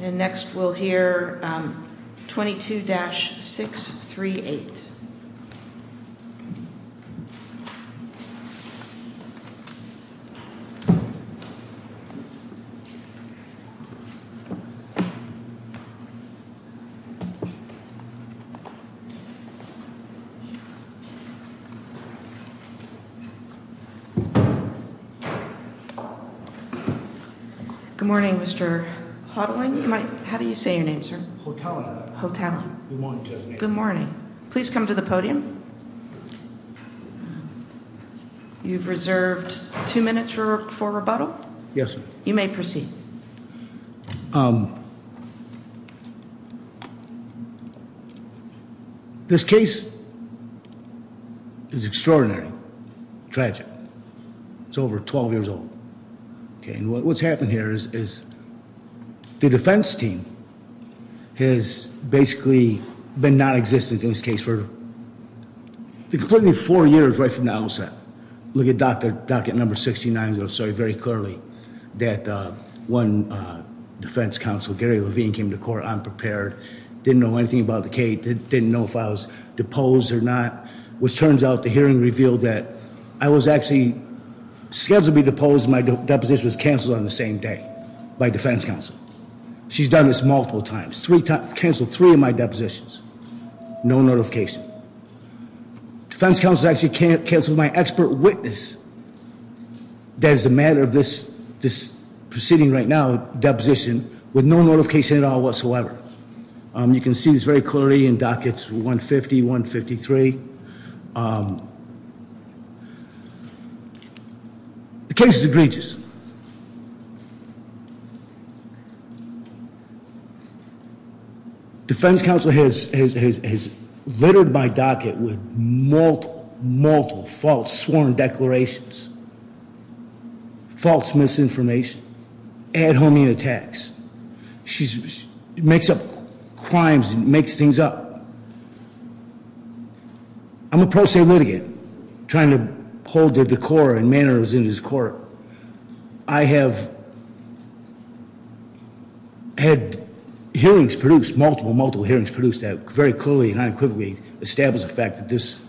And next we'll hear 22-638. Good morning, Mr. Houghtaling. How do you say your name, sir? Houghtaling. Houghtaling. Good morning. Good morning. Please come to the podium. You've reserved two minutes for rebuttal. Yes, ma'am. You may proceed. This case is extraordinary, tragic. It's over 12 years old. What's happened here is the defense team has basically been nonexistent in this case for completely four years right from the outset. Look at docket number 69. It was very clearly that one defense counsel, Gary Levine, came to court unprepared, didn't know anything about the case, didn't know if I was deposed or not. Which turns out the hearing revealed that I was actually scheduled to be deposed and my deposition was canceled on the same day by defense counsel. She's done this multiple times. Canceled three of my depositions. No notification. Defense counsel actually canceled my expert witness. That is a matter of this proceeding right now, deposition, with no notification at all whatsoever. You can see this very clearly in dockets 150, 153. The case is egregious. Defense counsel has littered my docket with multiple false sworn declarations, false misinformation, ad homine attacks. She makes up crimes and makes things up. I'm a pro se litigant, trying to hold the decor and manners in this court. I have had hearings produced, multiple, multiple hearings produced that very clearly and unequivocally establish the fact that this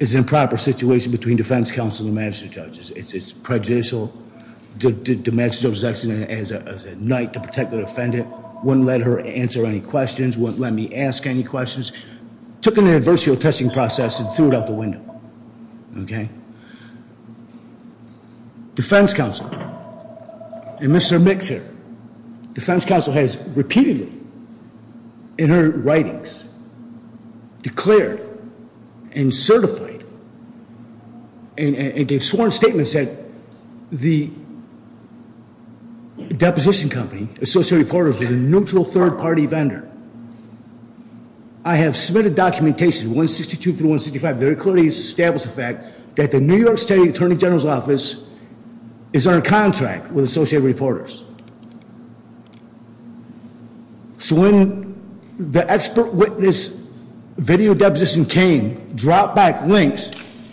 is an improper situation between defense counsel and magistrate judges. It's prejudicial. The magistrate was acting as a knight to protect the defendant. Wouldn't let her answer any questions, wouldn't let me ask any questions. Took an adversarial testing process and threw it out the window, okay? Defense counsel, and Mr. Mix here. Defense counsel has repeatedly, in her writings, declared and certified and gave sworn statements that the deposition company, Associated Reporters, is a neutral third party vendor. I have submitted documentation, 162 through 165, very clearly establish the fact that the New York State Attorney General's Office is under contract with Associated Reporters. So when the expert witness video deposition came, dropped back links,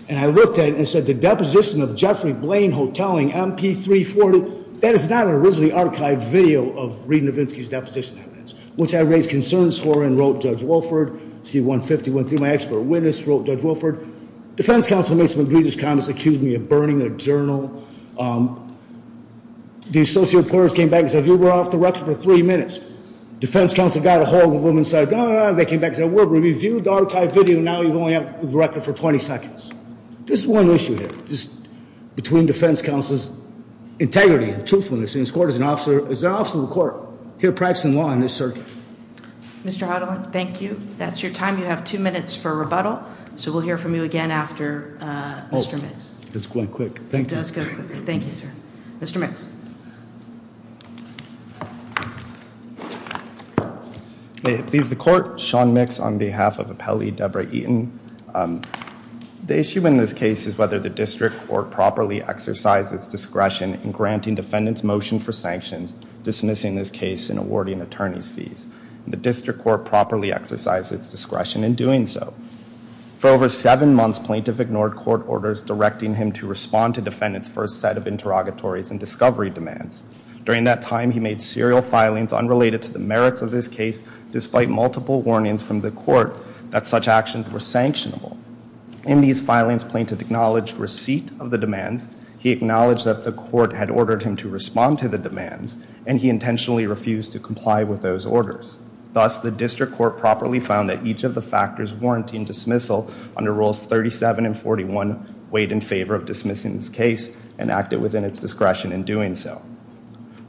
and I looked at it and said the deposition of Jeffrey Blaine Hotelling, MP340, that is not an originally archived video of Reed Novinsky's deposition evidence, which I raised concerns for and wrote Judge Wilford. C-150 went through my expert witness, wrote Judge Wilford. Defense counsel made some egregious comments, accused me of burning their journal. The Associated Reporters came back and said, you were off the record for three minutes. Defense counsel got a hold of them and said, no, no, no. They came back and said, we reviewed the archived video. Now you've only been off the record for 20 seconds. This is one issue here, just between defense counsel's integrity and truthfulness. Is there an officer of the court here practicing law in this circuit? Mr. Hotelling, thank you. That's your time. You have two minutes for rebuttal. So we'll hear from you again after Mr. Mix. It's going quick. Thank you. Thank you, sir. Mr. Mix. Please, the court. Sean Mix on behalf of Appellee Deborah Eaton. The issue in this case is whether the district court properly exercised its discretion in granting defendant's motion for sanctions, dismissing this case and awarding attorney's fees. The district court properly exercised its discretion in doing so. For over seven months, plaintiff ignored court orders directing him to respond to defendant's first set of interrogatories and discovery demands. During that time, he made serial filings unrelated to the merits of this case, despite multiple warnings from the court that such actions were sanctionable. In these filings, plaintiff acknowledged receipt of the demands. He acknowledged that the court had ordered him to respond to the demands, and he intentionally refused to comply with those orders. Thus, the district court properly found that each of the factors warranting dismissal under Rules 37 and 41 weighed in favor of dismissing this case and acted within its discretion in doing so.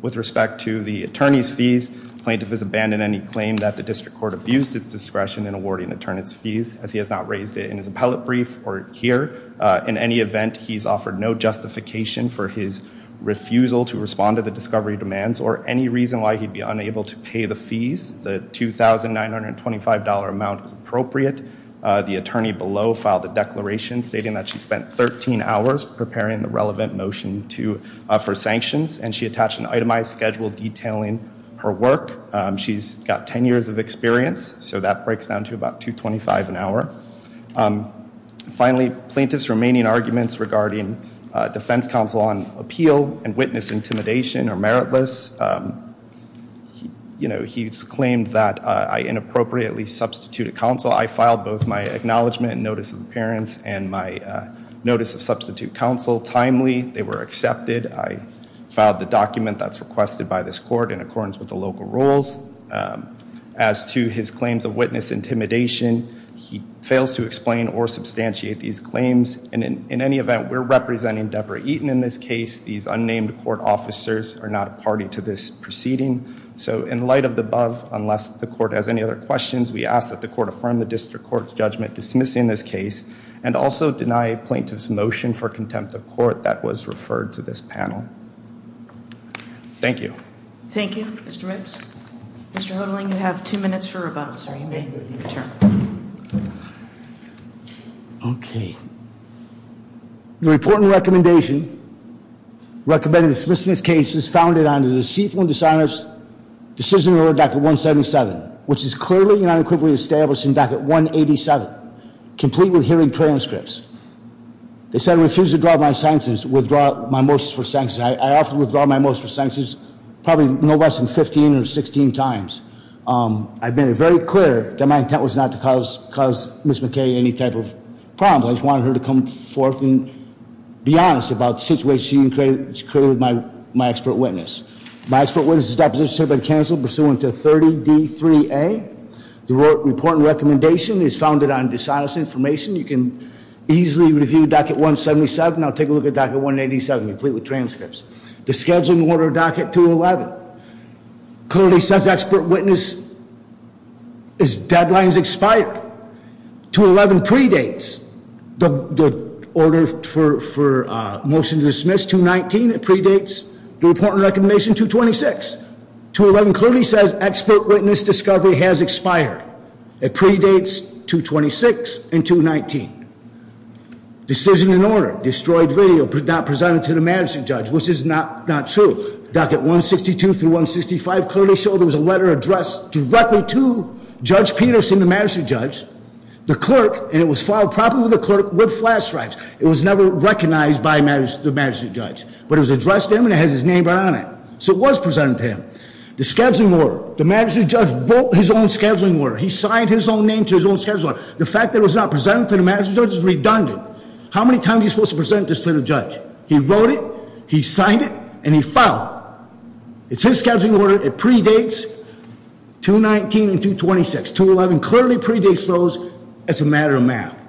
With respect to the attorney's fees, plaintiff has abandoned any claim that the district court abused its discretion in awarding attorney's fees, as he has not raised it in his appellate brief or here. In any event, he's offered no justification for his refusal to respond to the discovery demands or any reason why he'd be unable to pay the fees. The $2,925 amount is appropriate. The attorney below filed a declaration stating that she spent 13 hours preparing the relevant motion for sanctions, and she attached an itemized schedule detailing her work. She's got 10 years of experience, so that breaks down to about $225 an hour. Finally, plaintiff's remaining arguments regarding defense counsel on appeal and witness intimidation are meritless. You know, he's claimed that I inappropriately substituted counsel. I filed both my acknowledgment and notice of appearance and my notice of substitute counsel timely. They were accepted. I filed the document that's requested by this court in accordance with the local rules. As to his claims of witness intimidation, he fails to explain or substantiate these claims. In any event, we're representing Deborah Eaton in this case. These unnamed court officers are not a party to this proceeding. So in light of the above, unless the court has any other questions, we ask that the court affirm the district court's judgment dismissing this case and also deny plaintiff's motion for contempt of court that was referred to this panel. Thank you. Thank you. Mr. Riggs. Mr. Hodling, you have two minutes for rebuttal. Sir, you may return. Okay. The report and recommendation recommending dismissing this case is founded on the deceitful and dishonest decision to order docket 177, which is clearly and unequivocally established in docket 187, complete with hearing transcripts. They said I refused to withdraw my motions for sanctions. I have to withdraw my motions for sanctions probably no less than 15 or 16 times. I've made it very clear that my intent was not to cause Ms. McKay any type of problem. I just wanted her to come forth and be honest about the situation she created with my expert witness. My expert witness's deposition has been canceled pursuant to 30D3A. The report and recommendation is founded on dishonest information. You can easily review docket 177. Now take a look at docket 187, complete with transcripts. The scheduling order docket 211 clearly says expert witness is deadlines expired. 211 predates the order for motion to dismiss. 211 predates 219. It predates the report and recommendation 226. 211 clearly says expert witness discovery has expired. It predates 226 and 219. Decision in order, destroyed video not presented to the magistrate judge, which is not true. Docket 162 through 165 clearly showed there was a letter addressed directly to Judge Peterson, the magistrate judge, the clerk, and it was filed properly with the clerk with flash drives. It was never recognized by the magistrate judge. But it was addressed to him and it has his name right on it. So it was presented to him. The scheduling order, the magistrate judge wrote his own scheduling order. He signed his own name to his own scheduling order. The fact that it was not presented to the magistrate judge is redundant. How many times are you supposed to present this to the judge? He wrote it, he signed it, and he filed it. It's his scheduling order. It predates 219 and 226. 211 clearly predates those. It's a matter of math.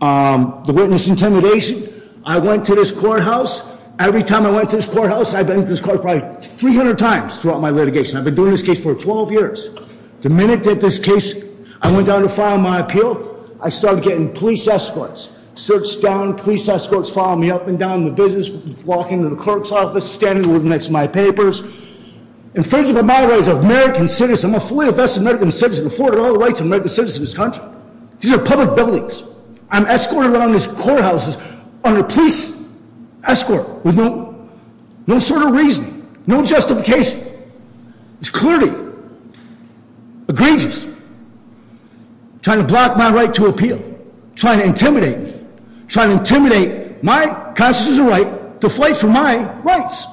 The witness intimidation. I went to this courthouse. Every time I went to this courthouse, I've been to this courthouse probably 300 times throughout my litigation. I've been doing this case for 12 years. The minute that this case, I went down to file my appeal, I started getting police escorts. Searched down, police escorts following me up and down the business, walking to the clerk's office, standing next to my papers. Infringement of my rights as an American citizen, I'm a fully vested American citizen, afforded all the rights of American citizens in this country. These are public buildings. I'm escorted around these courthouses on a police escort with no sort of reason, no justification. It's clearly egregious. Trying to block my right to appeal. Trying to intimidate me. Trying to intimidate my constitutional right to fight for my rights.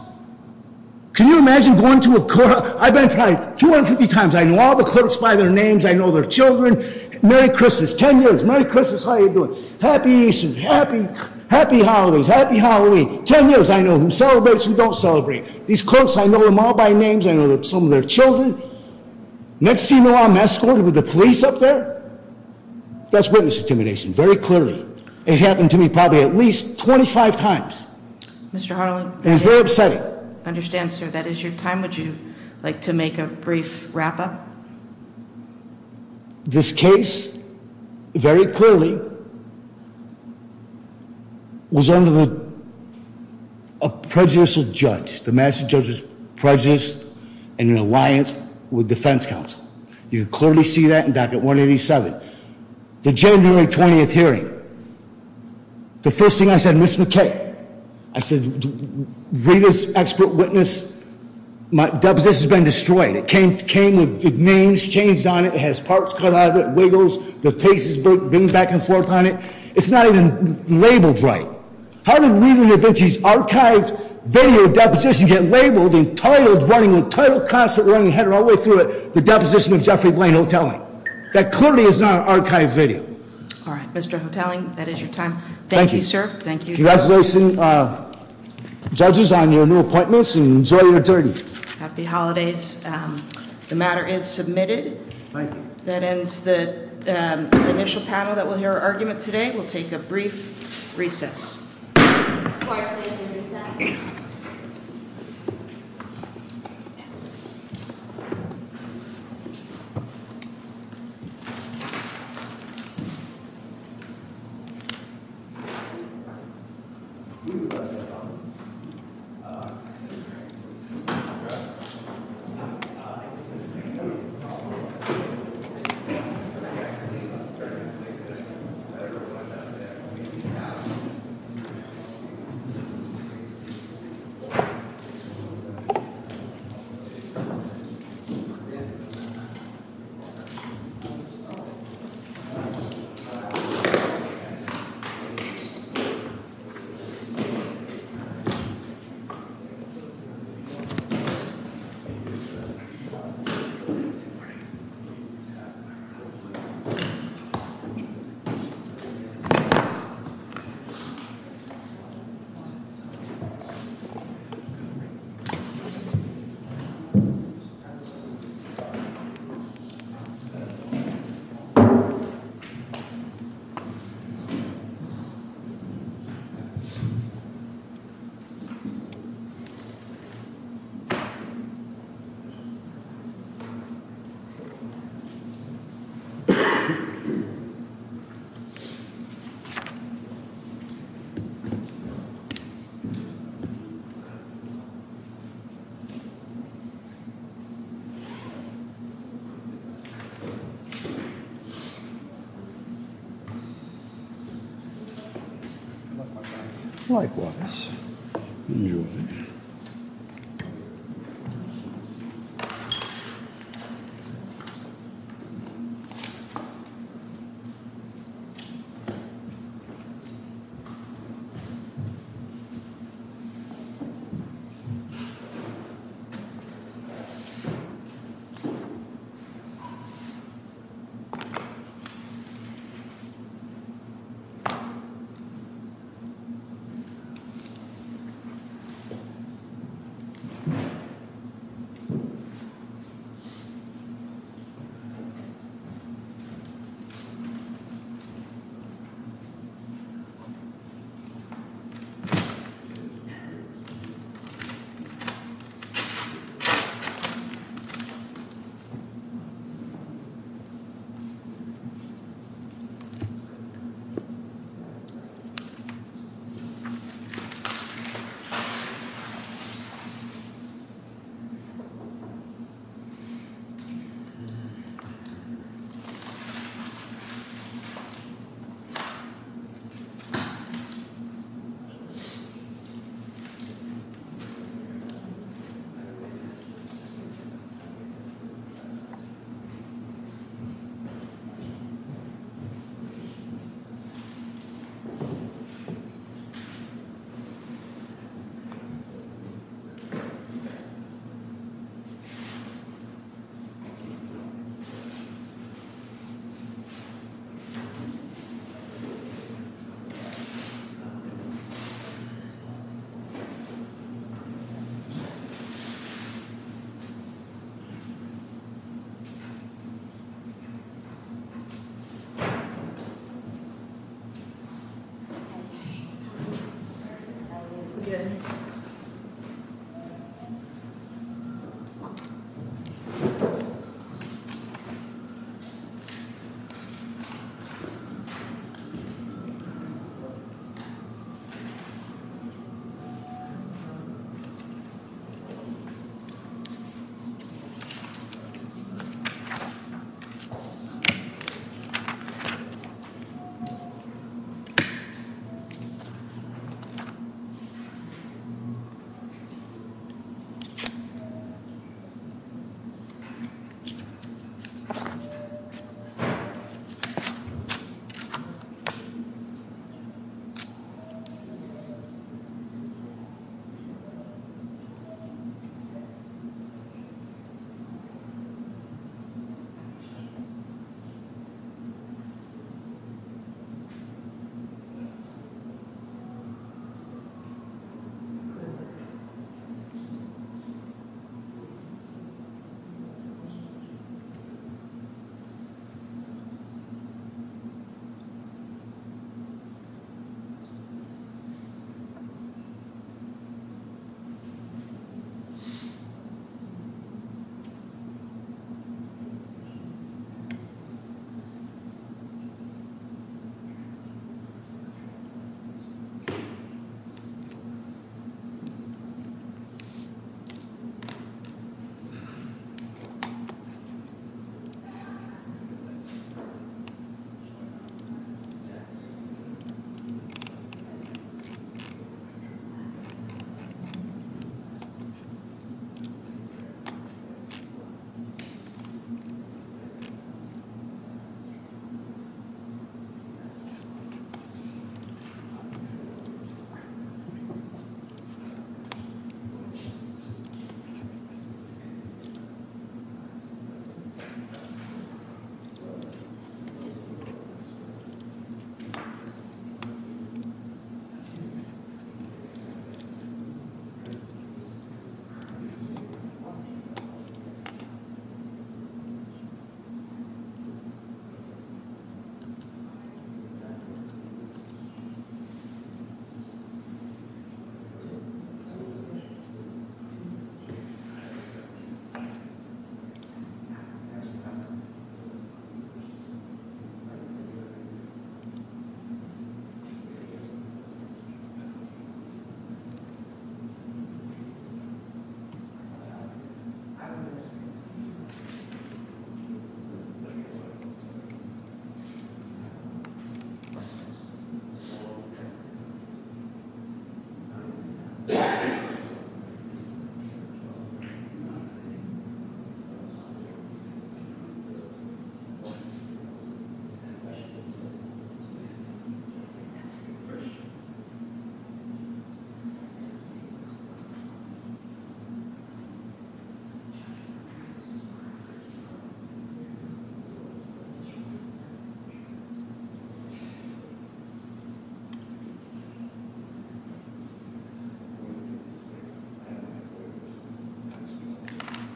Can you imagine going to a courthouse? I've been probably 250 times. I know all the clerks by their names. I know their children. Merry Christmas. Ten years. Merry Christmas. How are you doing? Happy Easter. Happy holidays. Happy Halloween. Ten years. I know them. Celebrate what you don't celebrate. These clerks, I know them all by names. I know some of their children. Next thing you know, I'm escorted with the police up there. That's witness intimidation, very clearly. It's happened to me probably at least 25 times. And it's very upsetting. I understand, sir. That is your time. Would you like to make a brief wrap-up? This case, very clearly, was under a prejudicial judge. The master judge was prejudiced in an alliance with defense counsel. You can clearly see that in Docket 187. The January 20th hearing, the first thing I said, I said, Rita's expert witness, my deposition's been destroyed. It came with names changed on it. It has parts cut out of it, wiggles. The face is bent back and forth on it. It's not even labeled right. How did Rita DaVinci's archived video deposition get labeled, entitled, running, entitled, constantly running, heading all the way through it, the deposition of Jeffrey Blaine Hotelling? That clearly is not an archived video. All right. Mr. Hotelling, that is your time. Thank you, sir. Congratulations, judges, on your new appointments, and enjoy your journey. Happy holidays. The matter is submitted. That ends the initial panel that will hear our argument today. We'll take a brief recess.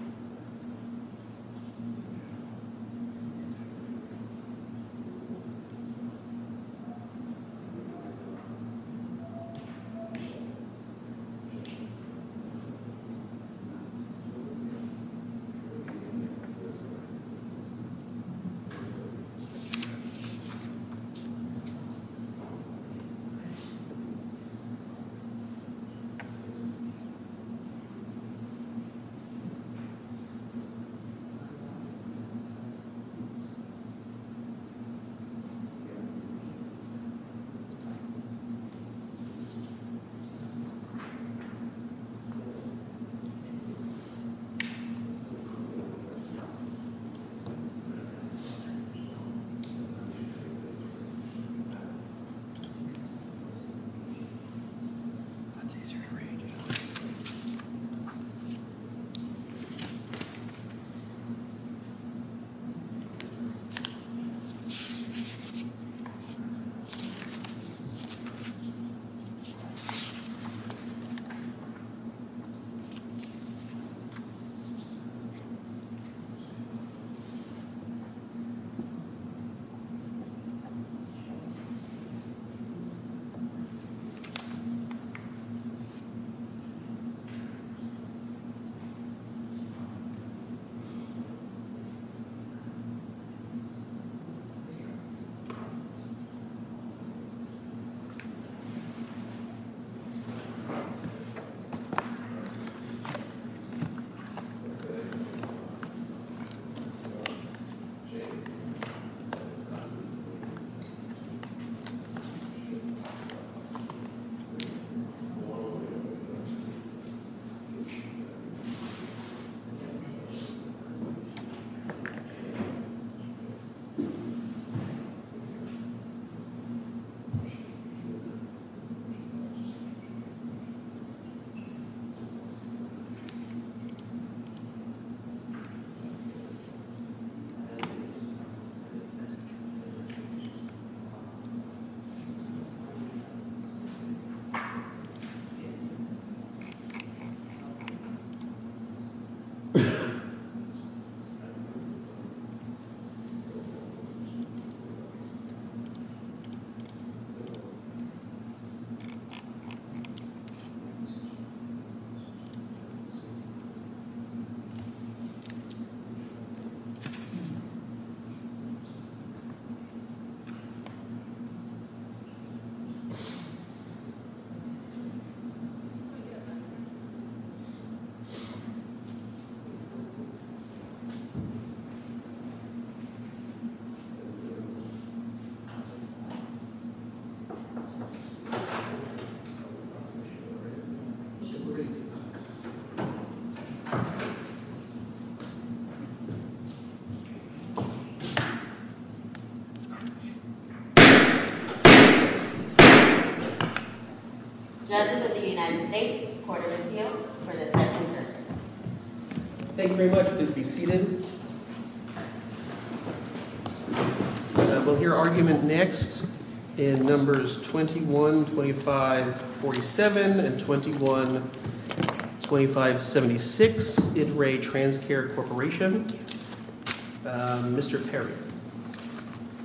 Thank you. Recess. Recess. Likewise. Enjoy. Recess. Recess. Recess. Recess. Good. Good. Thank you. Thank you. That concludes today's hearing. So thank you very much. Good work. Thank you. Thank you. Thank you. Thank you. That concludes today's hearing. Thank you. Thank you. Thank you. Thank you. Thank you. Thank you. Thank you. Thank you. Thank you. Thank you. Thank you. Thank you. Thank you very much. Please be seated. We'll hear argument next in Numbers 21, 25, 47 and 21, 25, 76, Ittray Transcare Corporation. Mr. Perry.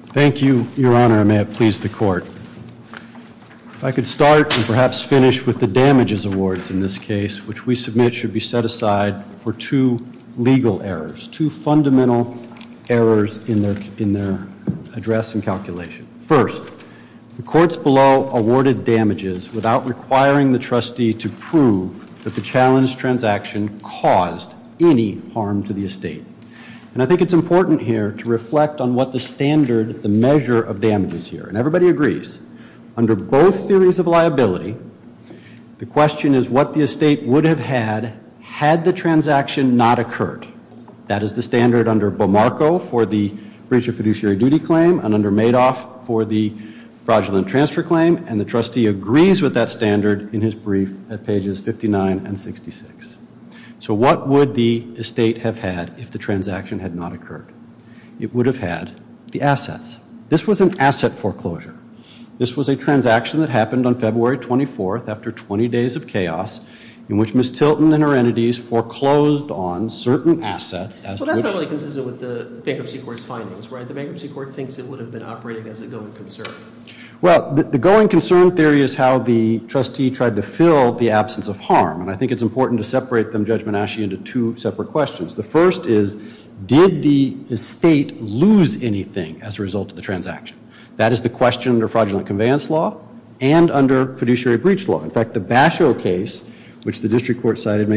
Thank you, Your Honor. And may it please the court. If I could start and perhaps finish with the damages awards in this case, which we submit should be set aside for two legal errors, two fundamental errors in their address and calculation. First, the courts below awarded damages without requiring the trustee to prove that the challenge transaction caused any harm to the estate. And I think it's important here to reflect on what the standard, the measure of damage is here. And everybody agrees. Under both theories of liability, the question is what the estate would have had had the transaction not occurred. That is the standard under Bamarco for the breach of fiduciary duty claim and under Madoff for the fraudulent transfer claim. And the trustee agrees with that standard in his brief at pages 59 and 66. So what would the estate have had if the transaction had not occurred? It would have had the assets. This was an asset foreclosure. This was a transaction that happened on February 24th after 20 days of chaos in which Ms. Tilton and her entities foreclosed on certain assets. Well, that's not really consistent with the Bankruptcy Court's findings, right? The Bankruptcy Court thinks it would have been operating as a going concern. Well, the going concern theory is how the trustee tried to fill the absence of harm. And I think it's important to separate them, Judge Manasci, into two separate questions. The first is did the estate lose anything as a result of the transaction? That is the question under fraudulent conveyance law and under fiduciary breach law. In fact, the Basho case, which the district court cited,